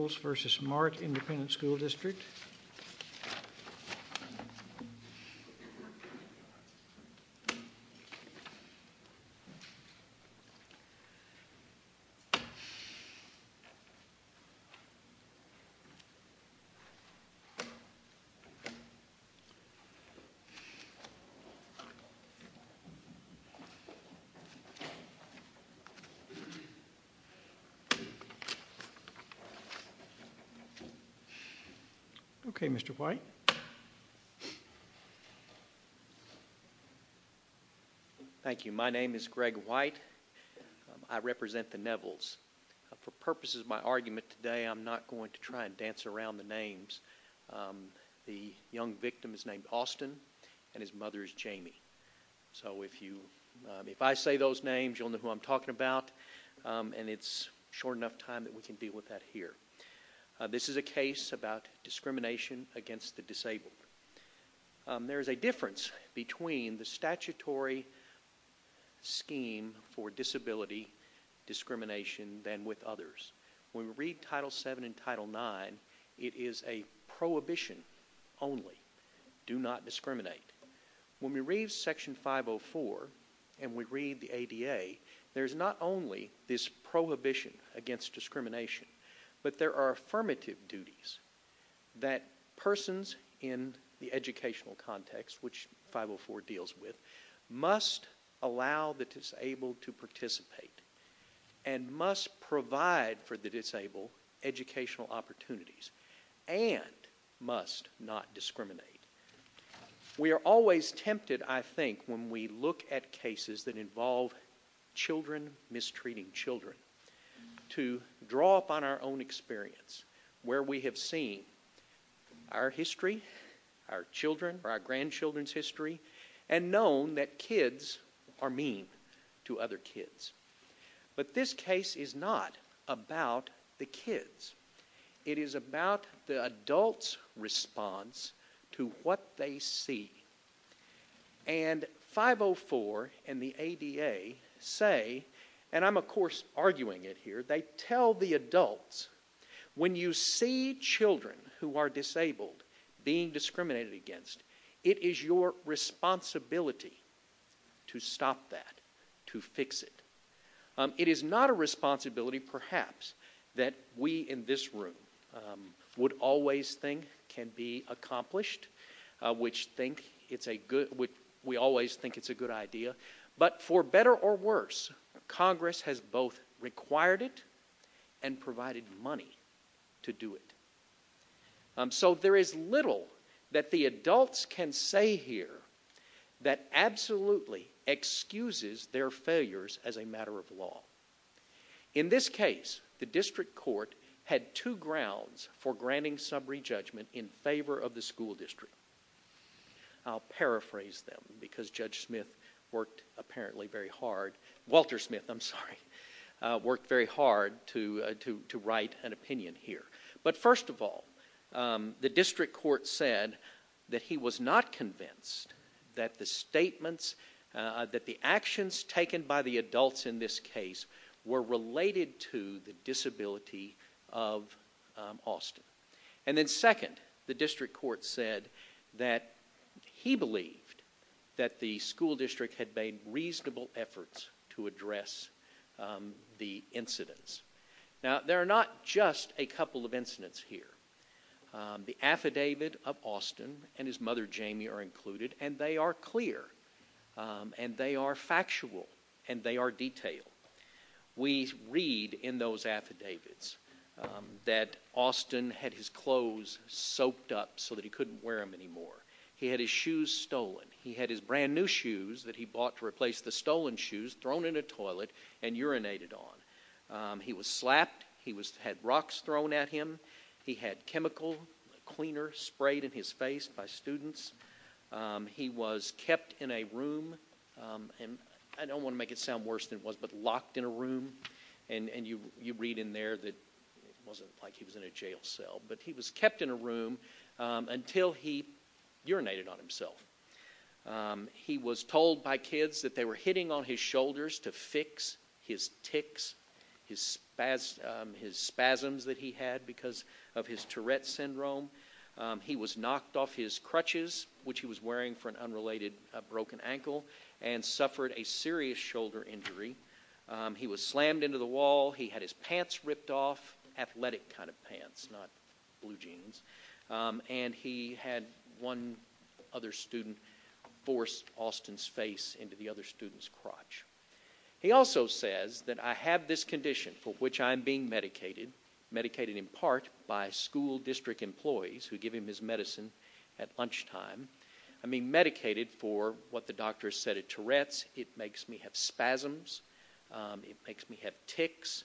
rt. Okay, Mr. White. Thank you. My name is Greg White. I represent the Nevels. For purposes of my argument today, I'm not going to try and dance around the names. The young victim is named Austin, and his mother is Jamie. So if I say those names, you'll know who I'm talking about, and it's short enough time that we can deal with that here. This is a case about discrimination against the disabled. There is a difference between the statutory scheme for disability discrimination than with others. When we read Title VII and Title IX, it is a prohibition only. Do not discriminate. When we read Section 504 and we read the ADA, there's not only this prohibition against discrimination, but there are affirmative duties that persons in the educational context, which 504 deals with, must allow the disabled to participate, and must provide for the disabled educational opportunities, and must not discriminate. We are always tempted, I think, when we look at cases that involve children mistreating children, to draw upon our own experience, where we have seen our history, our children, or our grandchildren's history, and known that kids are mean to other kids. But this case is not about the kids. It is about the adult's response to what they see. And 504 and the ADA say, and I'm of course arguing it here, they tell the adults, when you see children who are disabled being discriminated against, it is your responsibility to stop that, to fix it. It is not a responsibility, perhaps, that we in this room would always think can be a good idea, but for better or worse, Congress has both required it and provided money to do it. So there is little that the adults can say here that absolutely excuses their failures as a matter of law. In this case, the district court had two grounds for granting summary judgment in favor of the school district. I'll paraphrase them because Judge Smith worked apparently very hard, Walter Smith, I'm sorry, worked very hard to write an opinion here. But first of all, the district court said that he was not convinced that the statements, that the actions taken by the adults in this case were related to the disability of Austin. And then second, the district court said that he believed that the school district had made reasonable efforts to address the incidents. Now there are not just a couple of incidents here. The affidavit of Austin and his mother Jamie are included, and they are clear, and they are factual, and they are detailed. We read in those affidavits that Austin had his clothes soaked up so that he couldn't wear them anymore. He had his shoes stolen. He had his brand new shoes that he bought to replace the stolen shoes thrown in a toilet and urinated on. He was slapped. He had rocks thrown at him. He had chemical cleaner sprayed in his face by students. He was kept in a room, and I don't want to make it sound worse than it was, but locked in a room. And you read in there that it wasn't like he was in a jail cell, but he was kept in a room until he urinated on himself. He was told by kids that they were hitting on his shoulders to fix his tics, his spasms that he had because of his Tourette's syndrome. He was knocked off his crutches, which he was wearing for an unrelated broken ankle, and suffered a serious shoulder injury. He was slammed into the wall. He had his pants ripped off, athletic kind of pants, not blue jeans, and he had one other student force Austin's face into the other student's crotch. He also says that I have this condition for which I am being medicated, medicated in part by school district employees who give him his medicine at lunchtime, I mean medicated for what the doctors said at Tourette's. It makes me have spasms. It makes me have tics.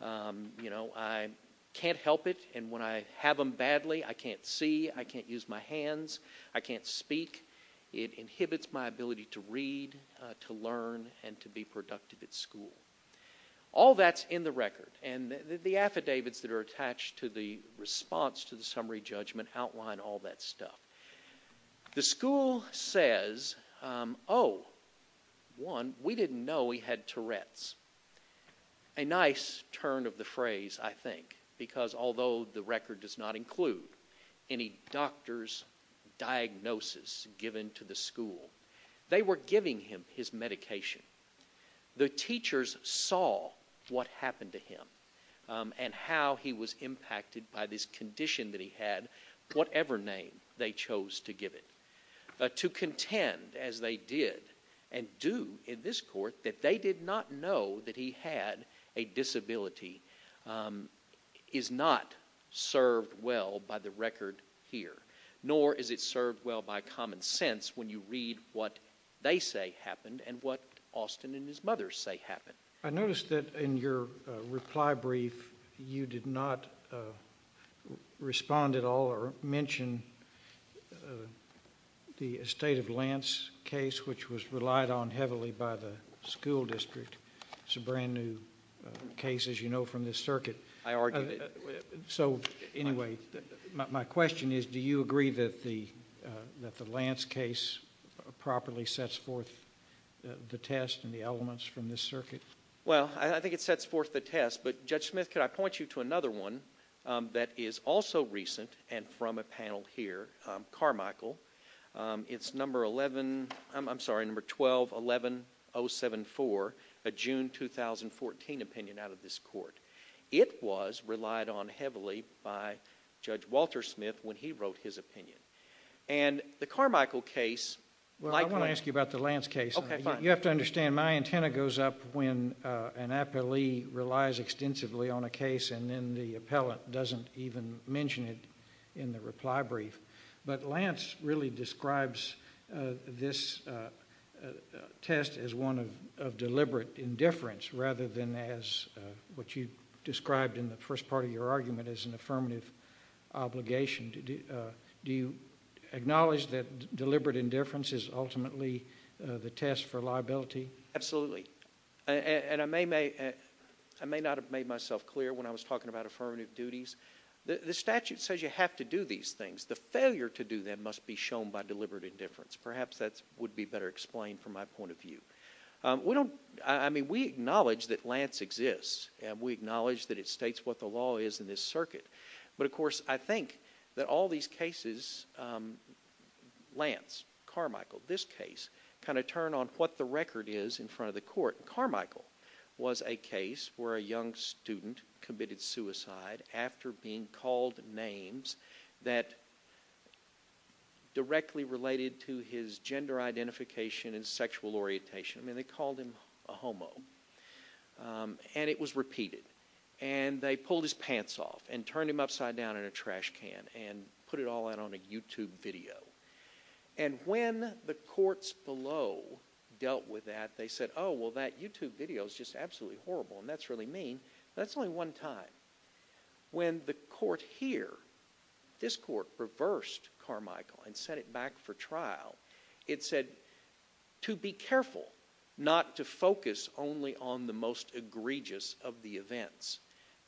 You know, I can't help it, and when I have them badly, I can't see, I can't use my hands, I can't speak. It inhibits my ability to read, to learn, and to be productive at school. All that's in the record, and the affidavits that are attached to the response to the summary judgment outline all that stuff. The school says, oh, one, we didn't know he had Tourette's. A nice turn of the phrase, I think, because although the record does not include any doctor's diagnosis given to the school, they were giving him his medication. The teachers saw what happened to him and how he was impacted by this condition that he had, whatever name they chose to give it. To contend, as they did and do in this court, that they did not know that he had a disability is not served well by the record here, nor is it served well by common sense when you look at what Austin and his mother say happened. I noticed that in your reply brief, you did not respond at all or mention the estate of Lance case, which was relied on heavily by the school district. It's a brand new case, as you know, from this circuit. I argued it. So anyway, my question is, do you agree that the Lance case properly sets forth the test? Well, I think it sets forth the test, but Judge Smith, could I point you to another one that is also recent and from a panel here, Carmichael. It's number 11... I'm sorry, number 12-11074, a June 2014 opinion out of this court. It was relied on heavily by Judge Walter Smith when he wrote his opinion. The Carmichael case... Well, I want to ask you about the Lance case. You have to understand, my antenna goes up when an appellee relies extensively on a case and then the appellant doesn't even mention it in the reply brief. But Lance really describes this test as one of deliberate indifference, rather than as what you described in the first part of your argument as an affirmative obligation. Do you acknowledge that deliberate indifference is ultimately the test for liability? Absolutely. And I may not have made myself clear when I was talking about affirmative duties. The statute says you have to do these things. The failure to do them must be shown by deliberate indifference. Perhaps that would be better explained from my point of view. We acknowledge that Lance exists, and we acknowledge that it states what the law is in this circuit. But of course, I think that all these cases, Lance, Carmichael, this case, kind of turn on what the record is in front of the court. Carmichael was a case where a young student committed suicide after being called names that directly related to his gender identification and sexual orientation. I mean, they called him a homo. And it was repeated. And they pulled his pants off and turned him upside down in a trash can and put it all out on a YouTube video. And when the courts below dealt with that, they said, oh, well, that YouTube video is just absolutely horrible, and that's really mean. That's only one time. When the court here, this court, reversed Carmichael and sent it back for trial, it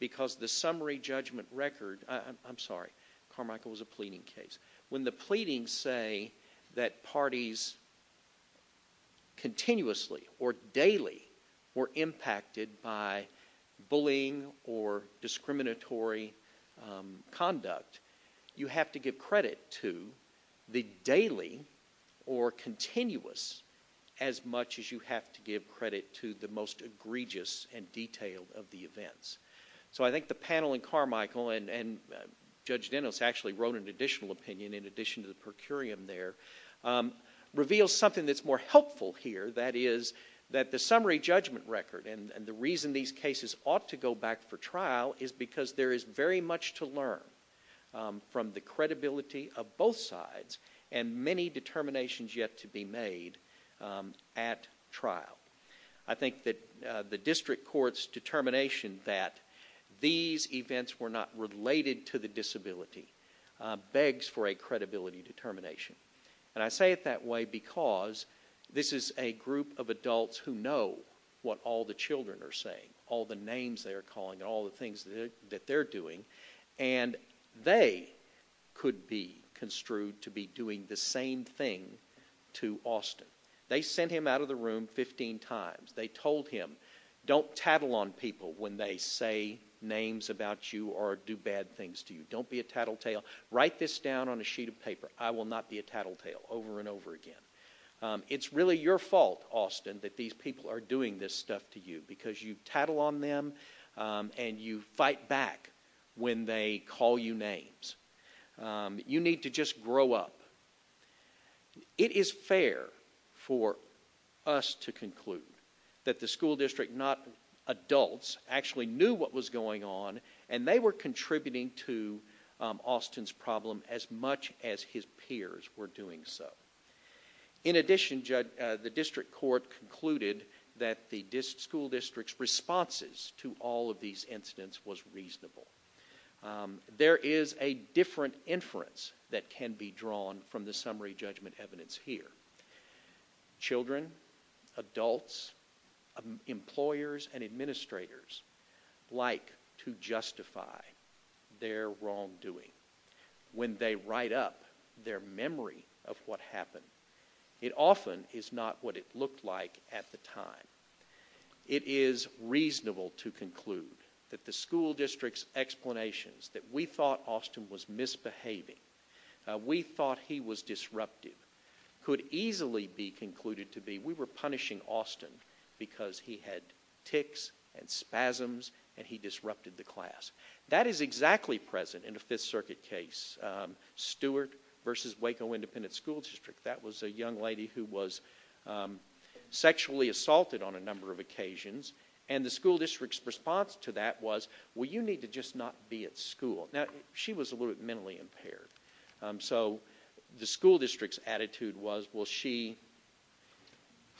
because the summary judgment record, I'm sorry, Carmichael was a pleading case. When the pleadings say that parties continuously or daily were impacted by bullying or discriminatory conduct, you have to give credit to the daily or continuous as much as you have to give credit to the most egregious and detailed of the events. So I think the panel in Carmichael, and Judge Dennis actually wrote an additional opinion in addition to the per curiam there, reveals something that's more helpful here, that is that the summary judgment record, and the reason these cases ought to go back for trial is because there is very much to learn from the credibility of both sides and many determinations yet to be made at trial. I think that the district court's determination that these events were not related to the disability begs for a credibility determination. And I say it that way because this is a group of adults who know what all the children are saying, all the names they're calling and all the things that they're doing, and they could be construed to be doing the same thing to Austin. They sent him out of the room 15 times. They told him, don't tattle on people when they say names about you or do bad things to you. Don't be a tattletale. Write this down on a sheet of paper. I will not be a tattletale over and over again. It's really your fault, Austin, that these people are doing this stuff to you because you tattle on them and you fight back when they call you names. You need to just grow up. It is fair for us to conclude that the school district, not adults, actually knew what was going on and they were contributing to Austin's problem as much as his peers were doing so. In addition, the district court concluded that the school district's responses to all of these incidents was reasonable. There is a different inference that can be drawn from the summary judgment evidence here. Children, adults, employers, and administrators like to justify their wrongdoing when they write up their memory of what happened. It often is not what it looked like at the time. It is reasonable to conclude that the school district's explanations that we thought Austin was misbehaving, we thought he was disruptive, could easily be concluded to be we were punishing Austin because he had tics and spasms and he disrupted the class. That is exactly present in the 5th Circuit case, Stewart v. Waco Independent School District. That was a young lady who was sexually assaulted on a number of occasions. The school district's response to that was, well, you need to just not be at school. She was a little bit mentally impaired. The school district's attitude was, well, she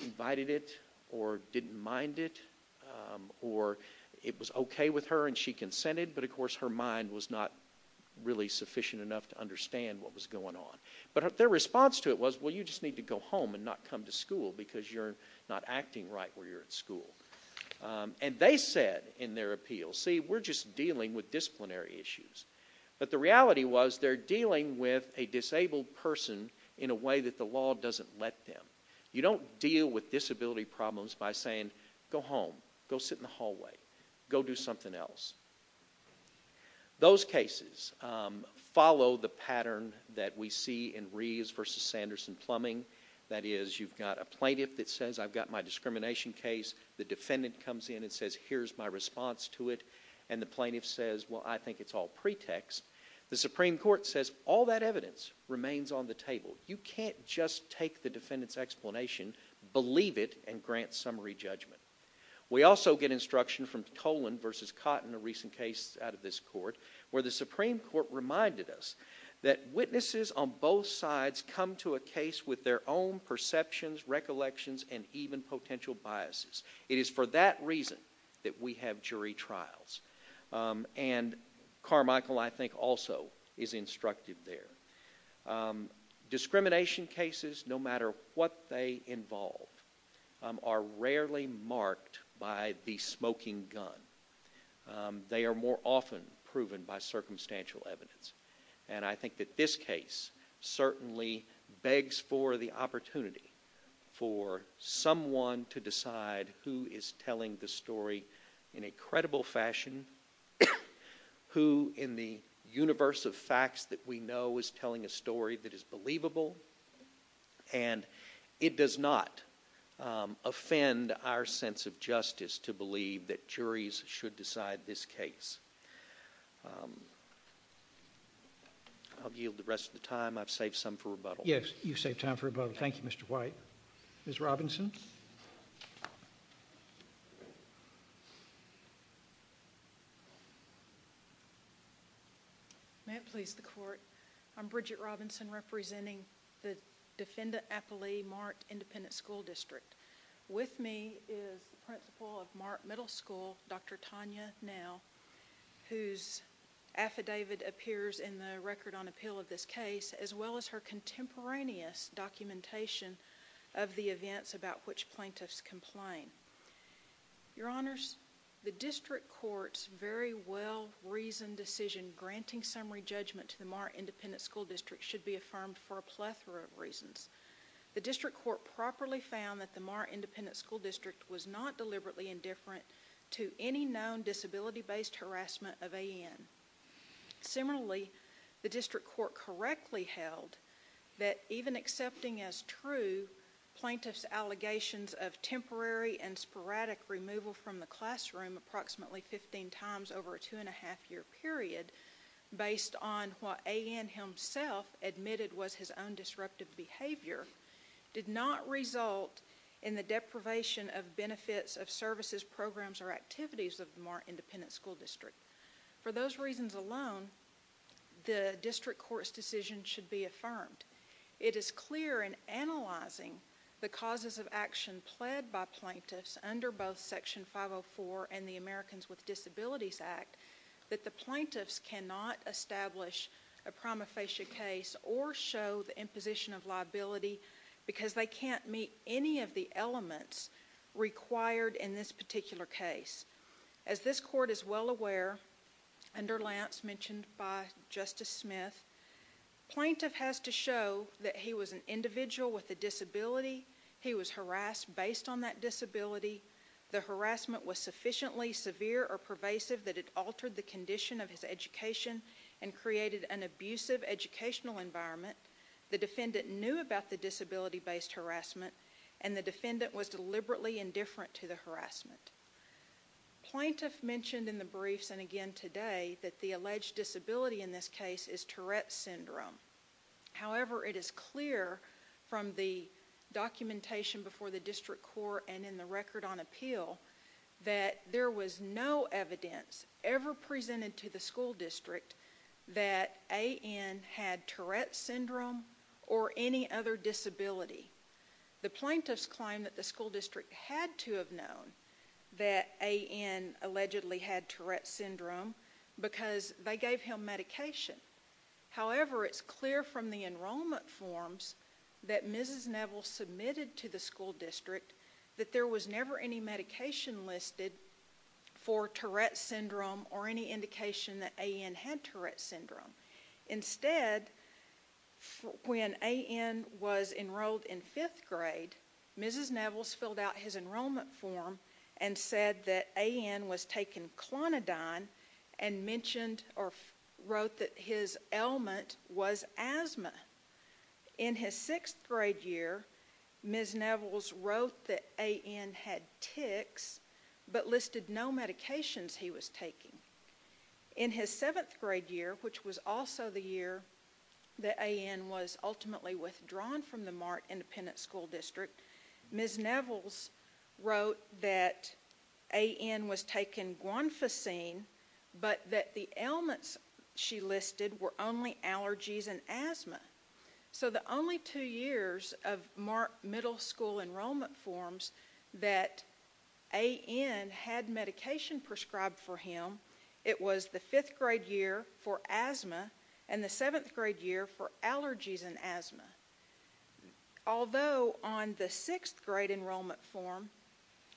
invited it or didn't mind it or it was a little bit of a mistake, but of course her mind was not really sufficient enough to understand what was going on. Their response to it was, well, you just need to go home and not come to school because you're not acting right where you're at school. They said in their appeal, see, we're just dealing with disciplinary issues. The reality was they're dealing with a disabled person in a way that the law doesn't let them. You don't deal with disability problems by saying, go home, go sit in the hallway, go do something else. Those cases follow the pattern that we see in Reeves v. Sanderson Plumbing. That is, you've got a plaintiff that says, I've got my discrimination case. The defendant comes in and says, here's my response to it. And the plaintiff says, well, I think it's all pretext. The Supreme Court says, all that evidence remains on the table. You can't just take the defendant's explanation, believe it, and grant summary judgment. We also get instruction from Tolan v. Cotton, a recent case out of this court, where the Supreme Court reminded us that witnesses on both sides come to a case with their own perceptions, recollections, and even potential biases. It is for that reason that we have jury trials. And Carmichael, I think, also is instructive there. Discrimination cases, no matter what they involve, are rarely marked by the smoking gun. They are more often proven by circumstantial evidence. And I think that this case certainly begs for the opportunity for someone to decide who is telling the story in a credible fashion, who, in the universe of facts that we know is telling a story that is believable. And it does not offend our sense of justice to believe that juries should decide this case. I'll yield the rest of the time. I've saved some for rebuttal. Yes. You've saved time for rebuttal. Thank you, Mr. White. Ms. Robinson? May it please the Court, I'm Bridget Robinson representing the Defendant Appellee Marked Independent School District. With me is the principal of Mark Middle School, Dr. Tanya Nell, whose affidavit appears in the Record on Appeal of this case, as well as her contemporaneous documentation of the events about which plaintiffs complain. Your Honors, the District Court's very well-reasoned decision granting summary judgment to the Mark Independent School District should be affirmed for a plethora of reasons. The District Court properly found that the Mark Independent School District was not deliberately indifferent to any known disability-based harassment of A.N. Similarly, the District Court correctly held that even accepting as true plaintiff's allegations of temporary and sporadic removal from the classroom approximately 15 times over a two-and-a-half year period based on what A.N. himself admitted was his own disruptive behavior did not result in the deprivation of benefits of services, programs, or activities of the Mark Independent School District. For those reasons alone, the District Court's decision should be affirmed. It is clear in analyzing the causes of action pled by plaintiffs under both Section 504 and the Americans with Disabilities Act that the plaintiffs cannot establish a prima facie case or show the imposition of liability because they can't meet any of the elements required in this particular case. As this Court is well aware, under Lance mentioned by Justice Smith, plaintiff has to show that he was an individual with a disability. He was harassed based on that disability. The harassment was sufficiently severe or pervasive that it altered the condition of his education and created an abusive educational environment. The defendant knew about the disability-based harassment and the defendant was deliberately indifferent to the harassment. Plaintiff mentioned in the briefs and again today that the alleged disability in this case is Tourette's Syndrome. However, it is clear from the documentation before the District Court and in the record on appeal that there was no evidence ever presented to the school district that A.N. had Tourette's Syndrome or any other disability. The plaintiffs claim that the school district had to have known that A.N. allegedly had Tourette's Syndrome because they gave him medication. However, it's clear from the enrollment forms that Mrs. Neville submitted to the school district that there was never any medication listed for Tourette's Syndrome or any indication that A.N. had Tourette's Syndrome. Instead, when A.N. was enrolled in fifth grade, Mrs. Neville filled out his enrollment form and said that A.N. was taking Clonidine and mentioned or wrote that his ailment was asthma. In his sixth grade year, Mrs. Neville wrote that A.N. had tics but listed no medications he was taking. In his seventh grade year, which was also the year that A.N. was ultimately withdrawn from the Mark Independent School District, Mrs. Neville wrote that A.N. was taking Guanfacine but that the ailments she listed were only allergies and asthma. So the only two years of Mark Middle School enrollment forms that A.N. had medication prescribed for him, it was the fifth grade year for asthma and the seventh grade year for allergies and asthma. Although on the sixth grade enrollment form,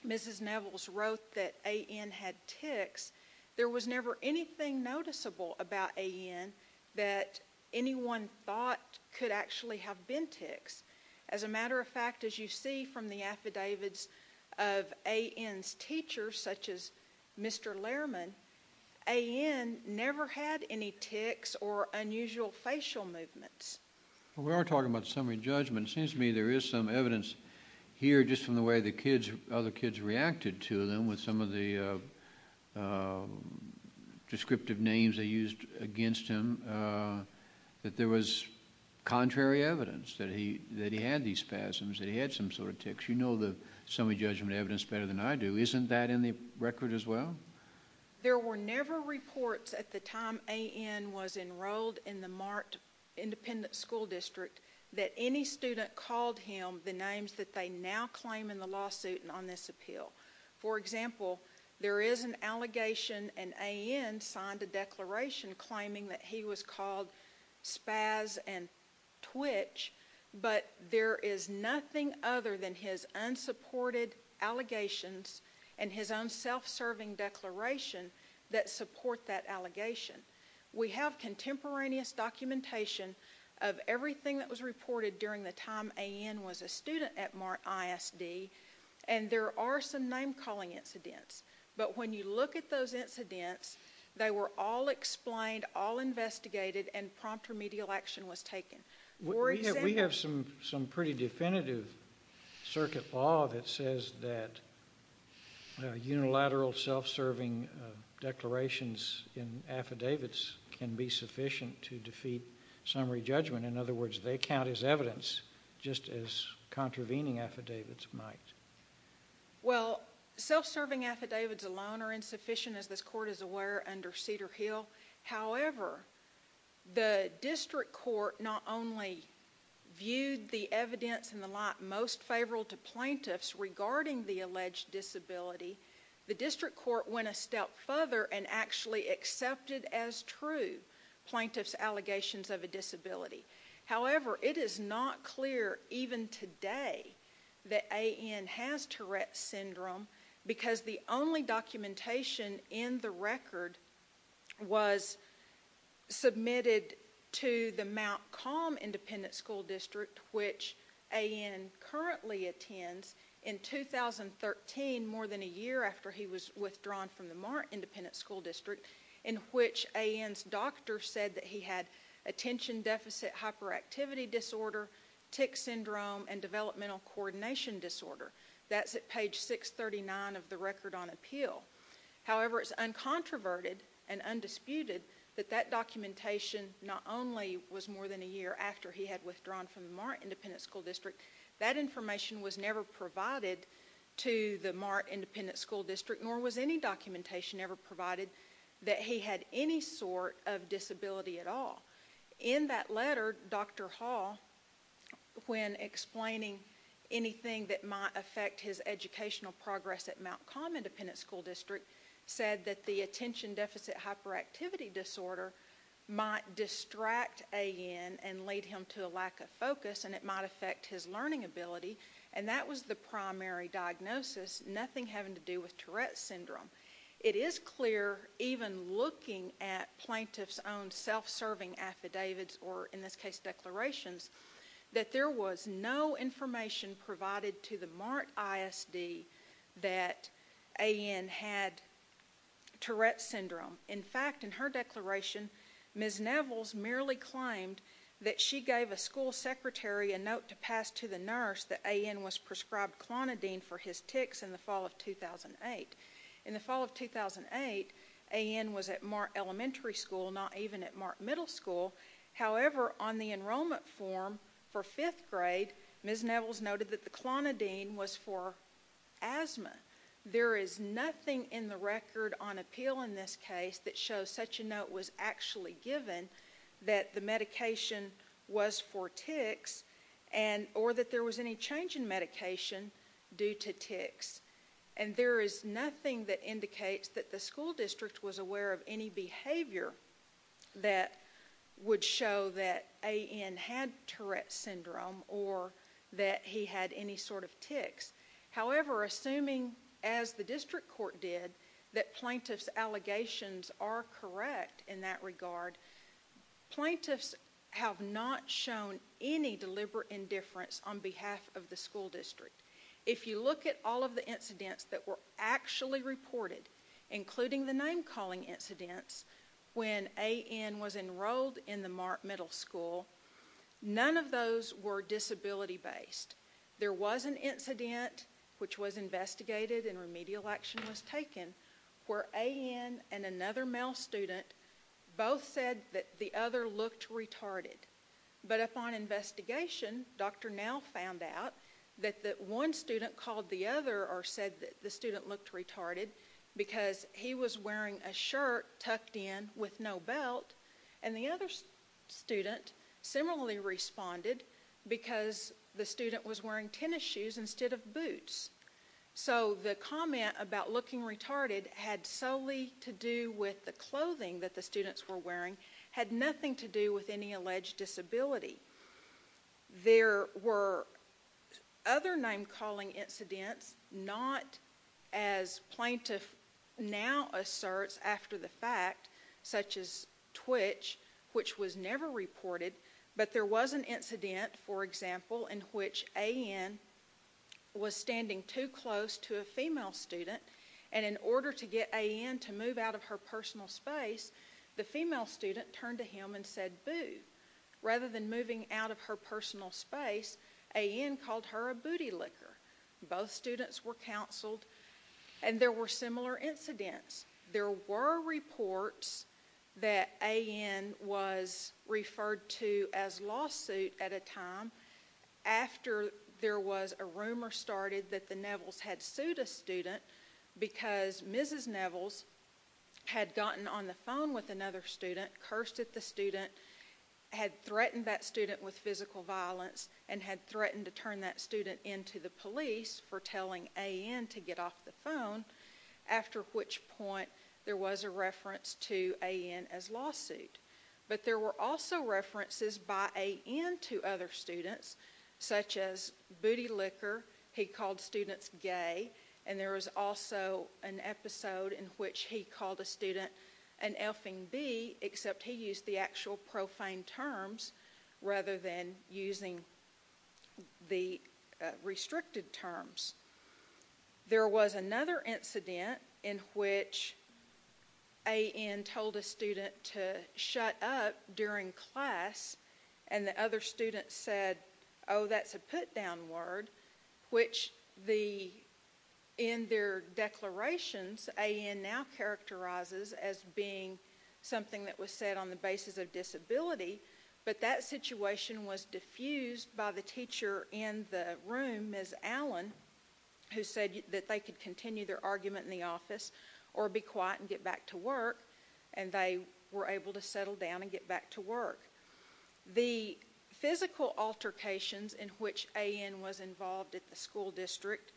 Mrs. Neville wrote that A.N. had tics, there was never anything noticeable about A.N. that anyone thought could actually have been tics. As a matter of fact, as you see from the affidavits of A.N.'s teachers, such as Mr. Lehrman, A.N. never had any tics or unusual facial movements. We are talking about summary judgment, it seems to me there is some evidence here just from the way the kids, other kids reacted to them with some of the descriptive names they used against him, that there was contrary evidence that he had these spasms, that he had some sort of tics. You know the summary judgment evidence better than I do, isn't that in the record as well? There were never reports at the time A.N. was enrolled in the Mark Independent School District that any student called him the names that they now claim in the lawsuit and on this appeal. For example, there is an allegation and A.N. signed a declaration claiming that he was called spaz and twitch, but there is nothing other than his unsupported allegations and his own self-serving declaration that support that allegation. We have contemporaneous documentation of everything that was reported during the time A.N. was a student at Mark ISD and there are some name calling incidents, but when you look at those incidents, they were all explained, all investigated and prompt remedial action was taken. We have some pretty definitive circuit law that says that unilateral self-serving declarations in affidavits can be sufficient to defeat summary judgment, in other words they count as evidence just as contravening affidavits might. Well self-serving affidavits alone are insufficient as this court is aware under Cedar Hill, however the district court not only viewed the evidence in the lot most favorable to plaintiffs regarding the alleged disability, the district court went a step further and actually accepted as true plaintiffs allegations of a disability. However, it is not clear even today that A.N. has Tourette's syndrome because the only documentation in the record was submitted to the Mount Calm Independent School District, which A.N. currently attends in 2013, more than a year after he was withdrawn from the Mark Independent School District, in which A.N.'s doctor said that he had attention deficit hyperactivity disorder, tick syndrome and developmental coordination disorder, that's at page 639 of the record on appeal. However, it's uncontroverted and undisputed that that documentation not only was more than a year after he had withdrawn from the Mark Independent School District, that information was never provided to the Mark Independent School District, nor was any documentation ever provided that he had any sort of disability at all. In that letter, Dr. Hall, when explaining anything that might affect his educational progress at Mount Calm Independent School District, said that the attention deficit hyperactivity disorder might distract A.N. and lead him to a lack of focus and it might affect his learning ability, and that was the primary diagnosis, nothing having to do with Tourette's syndrome. It is clear, even looking at plaintiff's own self-serving affidavits, or in this case declarations, that there was no information provided to the Mark ISD that A.N. had Tourette's syndrome. In fact, in her declaration, Ms. Nevels merely claimed that she gave a school secretary a note to pass to the nurse that A.N. was prescribed clonidine for his tics in the fall of 2008. In the fall of 2008, A.N. was at Mark Elementary School, not even at Mark Middle School. However, on the enrollment form for fifth grade, Ms. Nevels noted that the clonidine was for asthma. There is nothing in the record on appeal in this case that shows such a note was actually given that the medication was for tics, or that there was any change in medication due to tics. And there is nothing that indicates that the school district was aware of any behavior that would show that A.N. had Tourette's syndrome, or that he had any sort of tics. However, assuming, as the district court did, that plaintiff's allegations are correct in that regard, plaintiffs have not shown any deliberate indifference on behalf of the school district. If you look at all of the incidents that were actually reported, including the name-calling incidents, when A.N. was enrolled in the Mark Middle School, none of those were disability-based. There was an incident, which was investigated and remedial action was taken, where A.N. and another male student both said that the other looked retarded. But upon investigation, Dr. Now found out that one student called the other or said that the student looked retarded because he was wearing a shirt tucked in with no belt, and the other student similarly responded because the student was wearing tennis shoes instead of boots. So the comment about looking retarded had solely to do with the clothing that the students were wearing had nothing to do with any alleged disability. There were other name-calling incidents, not as plaintiff now asserts after the fact, such as Twitch, which was never reported, but there was an incident, for example, in which A.N. was standing too close to a female student, and in order to get A.N. to move out of her personal space, the female student turned to him and said, boo. Rather than moving out of her personal space, A.N. called her a booty licker. Both students were counseled, and there were similar incidents. There were reports that A.N. was referred to as lawsuit at a time after there was a had gotten on the phone with another student, cursed at the student, had threatened that student with physical violence, and had threatened to turn that student into the police for telling A.N. to get off the phone, after which point there was a reference to A.N. as lawsuit. But there were also references by A.N. to other students, such as booty licker, he called an episode in which he called a student an elfin bee, except he used the actual profane terms rather than using the restricted terms. There was another incident in which A.N. told a student to shut up during class, and the other student said, oh, that's a put-down word, which in their declarations, A.N. now characterizes as being something that was said on the basis of disability, but that situation was diffused by the teacher in the room, Ms. Allen, who said that they could continue their argument in the office, or be quiet and get back to work, and they were able to settle down and get back to work. The physical altercations in which A.N. was involved at the school district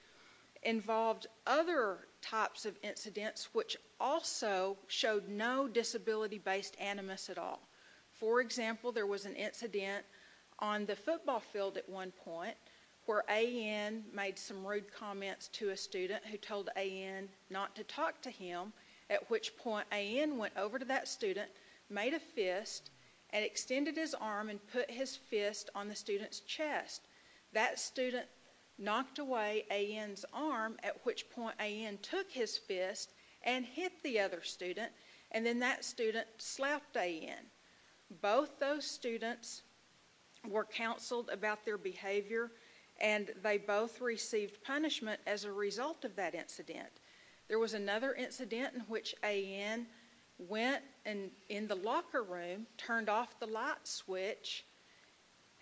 involved other types of incidents, which also showed no disability-based animus at all. For example, there was an incident on the football field at one point, where A.N. made some rude comments to a student who told A.N. not to talk to him, at which point A.N. went over to that student, made a fist, and extended his arm and put his fist on the student's chest. That student knocked away A.N.'s arm, at which point A.N. took his fist and hit the other student, and then that student slapped A.N. Both those students were counseled about their behavior, and they both received punishment as a result of that incident. There was another incident in which A.N. went in the locker room, turned off the light switch,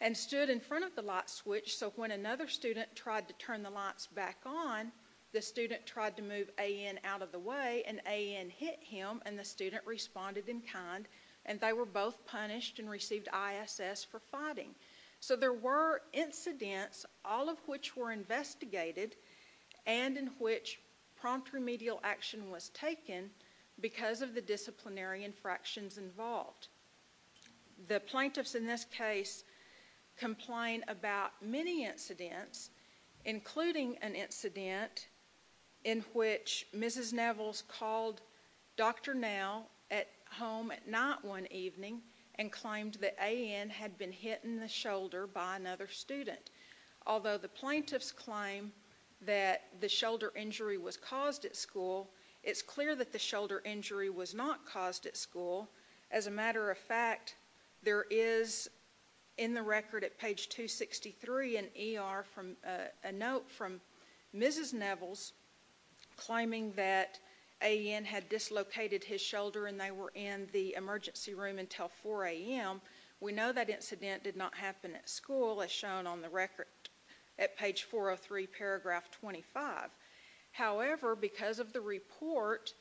and stood in front of the light switch, so when another student tried to turn the lights back on, the student tried to move A.N. out of the way, and A.N. hit him, and the student responded in kind, and they were both punished and received ISS for fighting. So there were incidents, all of which were investigated, and in which prompt remedial action was taken because of the disciplinary infractions involved. The plaintiffs in this case complain about many incidents, including an incident in which Mrs. Nevels called Dr. Nell at home at night one evening, and claimed that A.N. had been hit in the shoulder by another student. Although the plaintiffs claim that the shoulder injury was caused at school, it's clear that the shoulder injury was not caused at school. As a matter of fact, there is, in the record at page 263 in ER, a note from Mrs. Nevels claiming that A.N. had dislocated his shoulder, and they were in the emergency room until 4 a.m. We know that incident did not happen at school, as shown on the record at page 403, paragraph 25. However, because of the report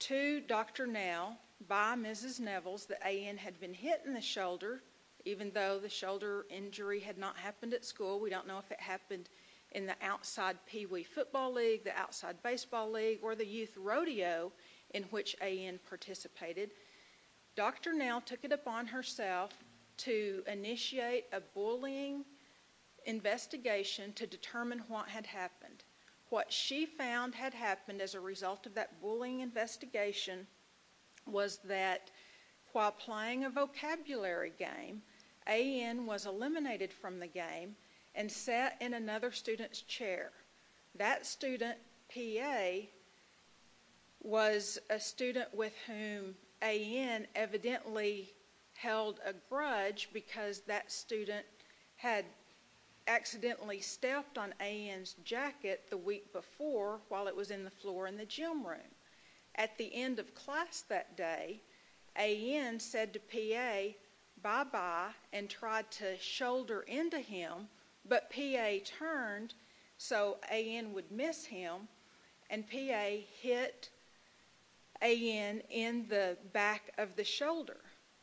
to Dr. Nell by Mrs. Nevels that A.N. had been hit in the shoulder, even though the shoulder injury had not happened at school, we don't know if it happened in the outside peewee football league, the outside baseball league, or the youth rodeo in which A.N. participated. Dr. Nell took it upon herself to initiate a bullying investigation to determine what had happened. What she found had happened as a result of that bullying investigation was that while playing a vocabulary game, A.N. was eliminated from the game and sat in another student's chair. That student, P.A., was a student with whom A.N. evidently held a grudge because that student had accidentally stepped on A.N.'s jacket the week before while it was in the floor in the gym room. At the end of class that day, A.N. said to P.A., bye-bye, and tried to shoulder into him, but P.A. turned so A.N. would miss him, and P.A. hit A.N. in the back of the shoulder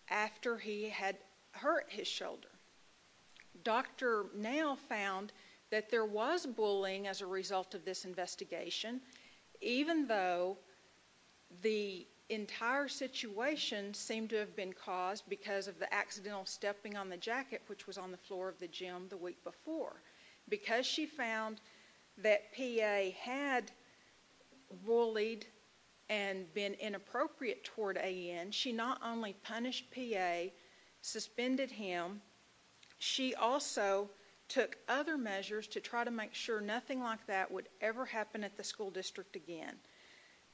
after he had hurt his shoulder. Dr. Nell found that there was bullying as a result of this investigation, even though the entire situation seemed to have been caused because of the accidental stepping on the jacket the week before. Because she found that P.A. had bullied and been inappropriate toward A.N., she not only punished P.A., suspended him, she also took other measures to try to make sure nothing like that would ever happen at the school district again.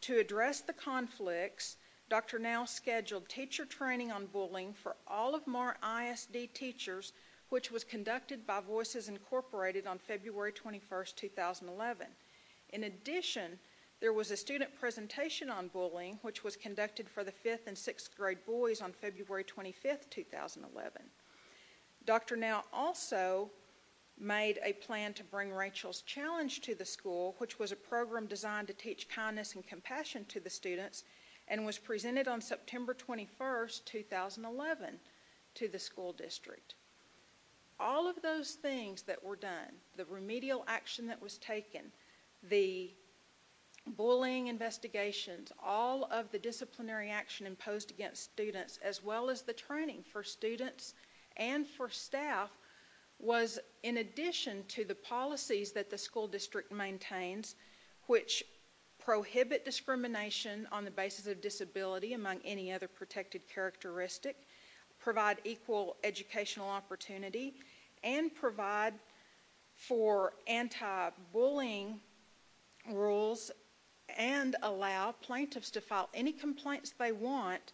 To address the conflicts, Dr. Nell scheduled teacher training on bullying for all of Marr I.S.D. teachers, which was conducted by Voices Incorporated on February 21st, 2011. In addition, there was a student presentation on bullying, which was conducted for the fifth and sixth grade boys on February 25th, 2011. Dr. Nell also made a plan to bring Rachel's Challenge to the school, which was a program designed to teach kindness and compassion to the students, and was presented on September 21st, 2011, to the school district. All of those things that were done, the remedial action that was taken, the bullying investigations, all of the disciplinary action imposed against students, as well as the training for students and for staff, was in addition to the policies that the school district maintains, which prohibit discrimination on the basis of disability, among any other protected characteristic, provide equal educational opportunity, and provide for anti-bullying rules, and allow plaintiffs to file any complaints they want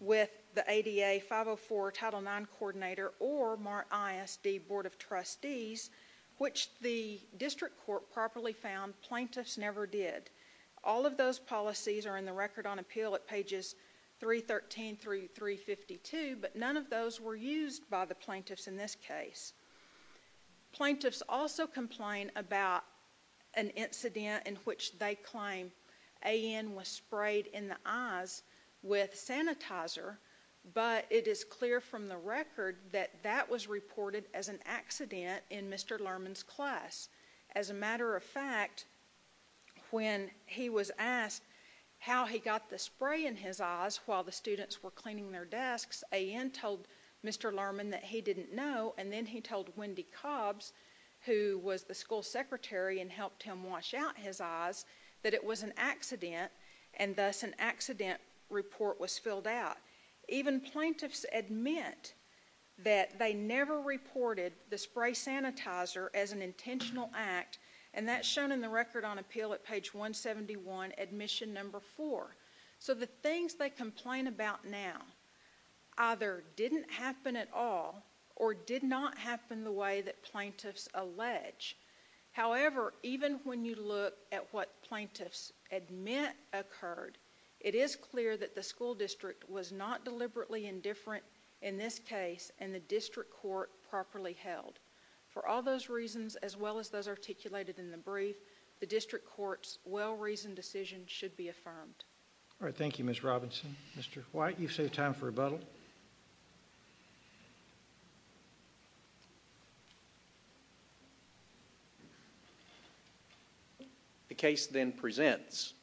with the ADA 504 Title IX coordinator or Marr ISD Board of Trustees, which the district court properly found plaintiffs never did. All of those policies are in the Record on Appeal at pages 313 through 352, but none of those were used by the plaintiffs in this case. Plaintiffs also complain about an incident in which they claim A.N. was sprayed in the classroom. A.N. reported as an accident in Mr. Lerman's class. As a matter of fact, when he was asked how he got the spray in his eyes while the students were cleaning their desks, A.N. told Mr. Lerman that he didn't know, and then he told Wendy Cobbs, who was the school secretary and helped him wash out his eyes, that it was an accident, and thus an accident report was filled out. Even plaintiffs admit that they never reported the spray sanitizer as an intentional act, and that's shown in the Record on Appeal at page 171, admission number 4. So the things they complain about now either didn't happen at all, or did not happen the way that plaintiffs allege. However, even when you look at what plaintiffs admit occurred, it is clear that the school district was not deliberately indifferent in this case, and the district court properly held. For all those reasons, as well as those articulated in the brief, the district court's well-reasoned decision should be affirmed. All right. Thank you, Ms. Robinson. Mr. White, you've saved time for rebuttal. The case then presents,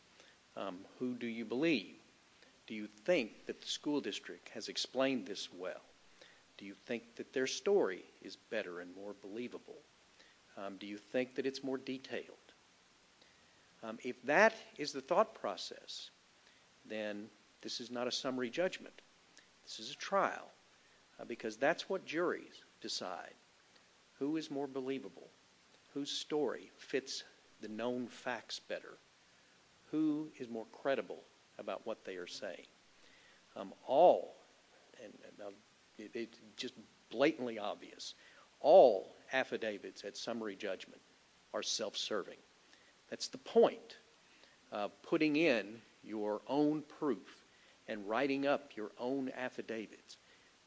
who do you believe? Do you think that the school district has explained this well? Do you think that their story is better and more believable? Do you think that it's more detailed? If that is the thought process, then this is not a summary judgment. This is a trial, because that's what juries decide. Who is more believable? Whose story fits the known facts better? Who is more credible about what they are saying? All, and it's just blatantly obvious, all affidavits at summary judgment are self-serving. That's the point of putting in your own proof and writing up your own affidavits.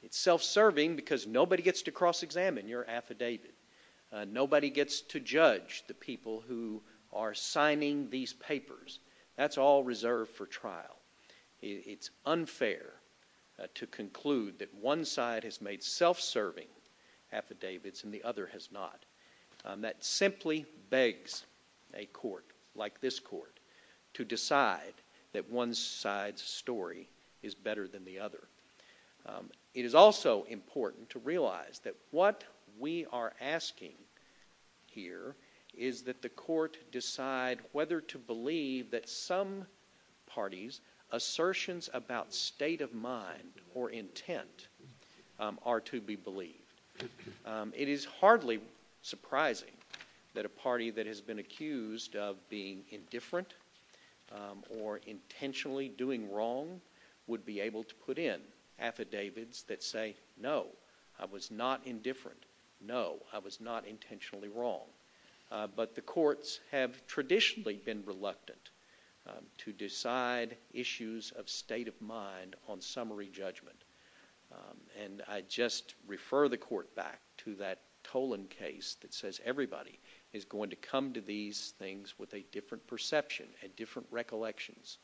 It's self-serving because nobody gets to cross-examine your affidavit. Nobody gets to judge the people who are signing these papers. That's all reserved for trial. It's unfair to conclude that one side has made self-serving affidavits and the other has not. That simply begs a court like this court to decide that one side's story is better than the other. It is also important to realize that what we are asking here is that the court decide whether to believe that some party's assertions about state of mind or intent are to be believed. It is hardly surprising that a party that has been accused of being indifferent or intentionally doing wrong would be able to put in affidavits that say, no, I was not indifferent. No, I was not intentionally wrong. But the courts have traditionally been reluctant to decide issues of state of mind on summary judgment. And I just refer the court back to that Tolan case that says everybody is going to come to these things with a different perception, a different recollections,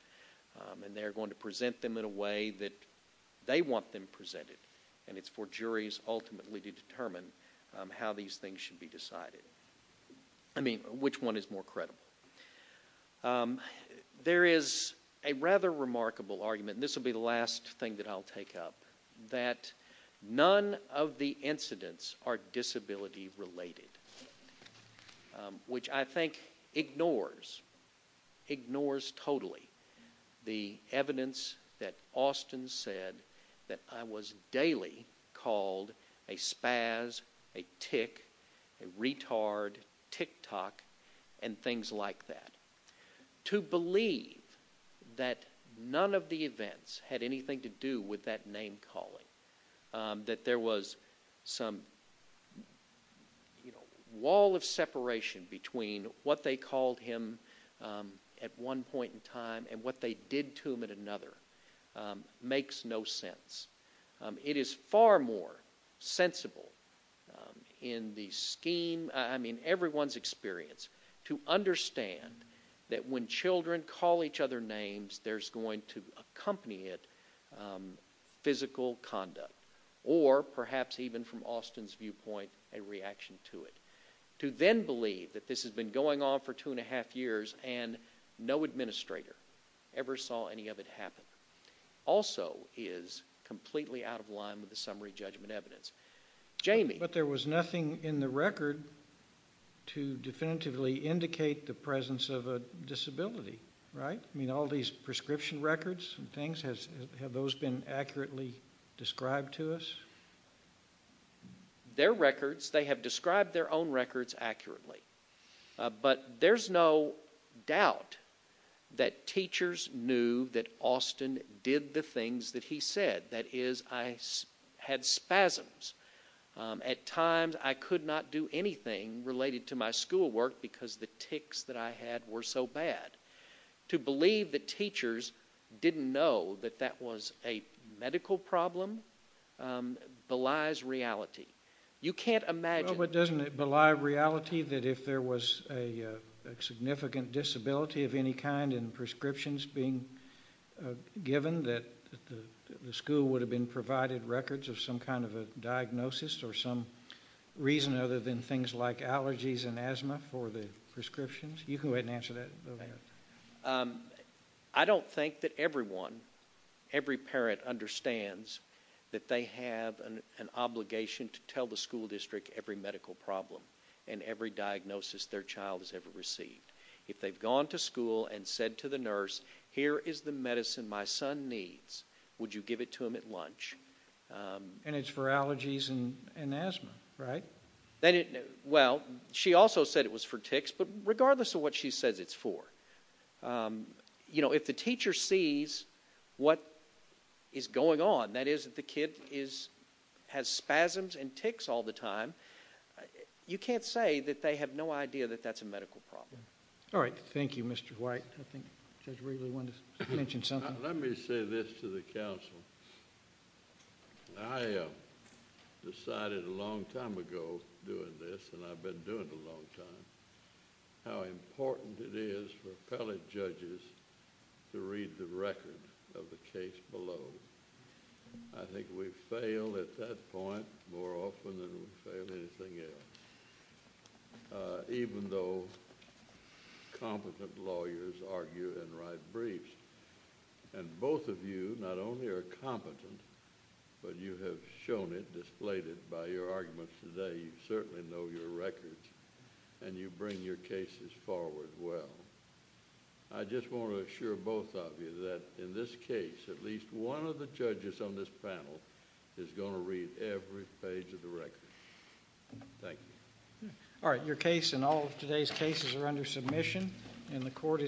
and they're going to present them in a way that they want them to be decided. I mean, which one is more credible? There is a rather remarkable argument, and this will be the last thing that I'll take up, that none of the incidents are disability related, which I think ignores, ignores totally, the evidence that Austin said that I was daily called a spaz, a tick, a retard, tick-tock, and things like that. To believe that none of the events had anything to do with that name calling, that there was some wall of separation between what they called him at one point in time and what they did to him at another, makes no sense. It is far more sensible in the scheme, I mean, everyone's experience to understand that when children call each other names, there's going to accompany it physical conduct, or perhaps even from Austin's viewpoint, a reaction to it. To then believe that this has been going on for two and a half years and no administrator ever saw any of it happen, also is completely out of line with the summary judgment evidence. Jamie? But there was nothing in the record to definitively indicate the presence of a disability, right? I mean, all these prescription records and things, have those been accurately described to us? Their records, they have described their own records accurately, but there's no doubt that teachers knew that Austin did the things that he said. That is, I had spasms. At times, I could not do anything related to my schoolwork because the ticks that I had were so bad. To believe that teachers didn't know that that was a medical problem, belies reality. You can't imagine... Well, but doesn't it believe reality that if there was a significant disability of any kind and prescriptions being given, that the school would have been provided records of some kind of a diagnosis or some reason other than things like allergies and asthma for the prescriptions? You can go ahead and answer that. I don't think that everyone, every parent understands that they have an obligation to tell the school district every medical problem and every diagnosis their child has ever received. If they've gone to school and said to the nurse, here is the medicine my son needs. Would you give it to him at lunch? And it's for allergies and asthma, right? Well, she also said it was for ticks, but regardless of what she says it's for, if the teacher sees what is going on, that is, that the kid has spasms and ticks all the time, you can't say that they have no idea that that's a medical problem. All right. Thank you, Mr. White. I think Judge Wrigley wanted to mention something. Let me say this to the council. I decided a long time ago doing this, and I've been doing it a long time, how important it is for appellate judges to read the record of the case below. I think we fail at that point more often than we fail anything else. Even though competent lawyers argue and write briefs, and both of you not only are competent, but you have shown it, displayed it by your arguments today. You certainly know your records, and you bring your cases forward well. I just want to assure both of you that in this case, at least one of the judges on this panel is going to read every page of the record. Thank you. All right. Your case and all of today's cases are under submission, and the court is adjourned.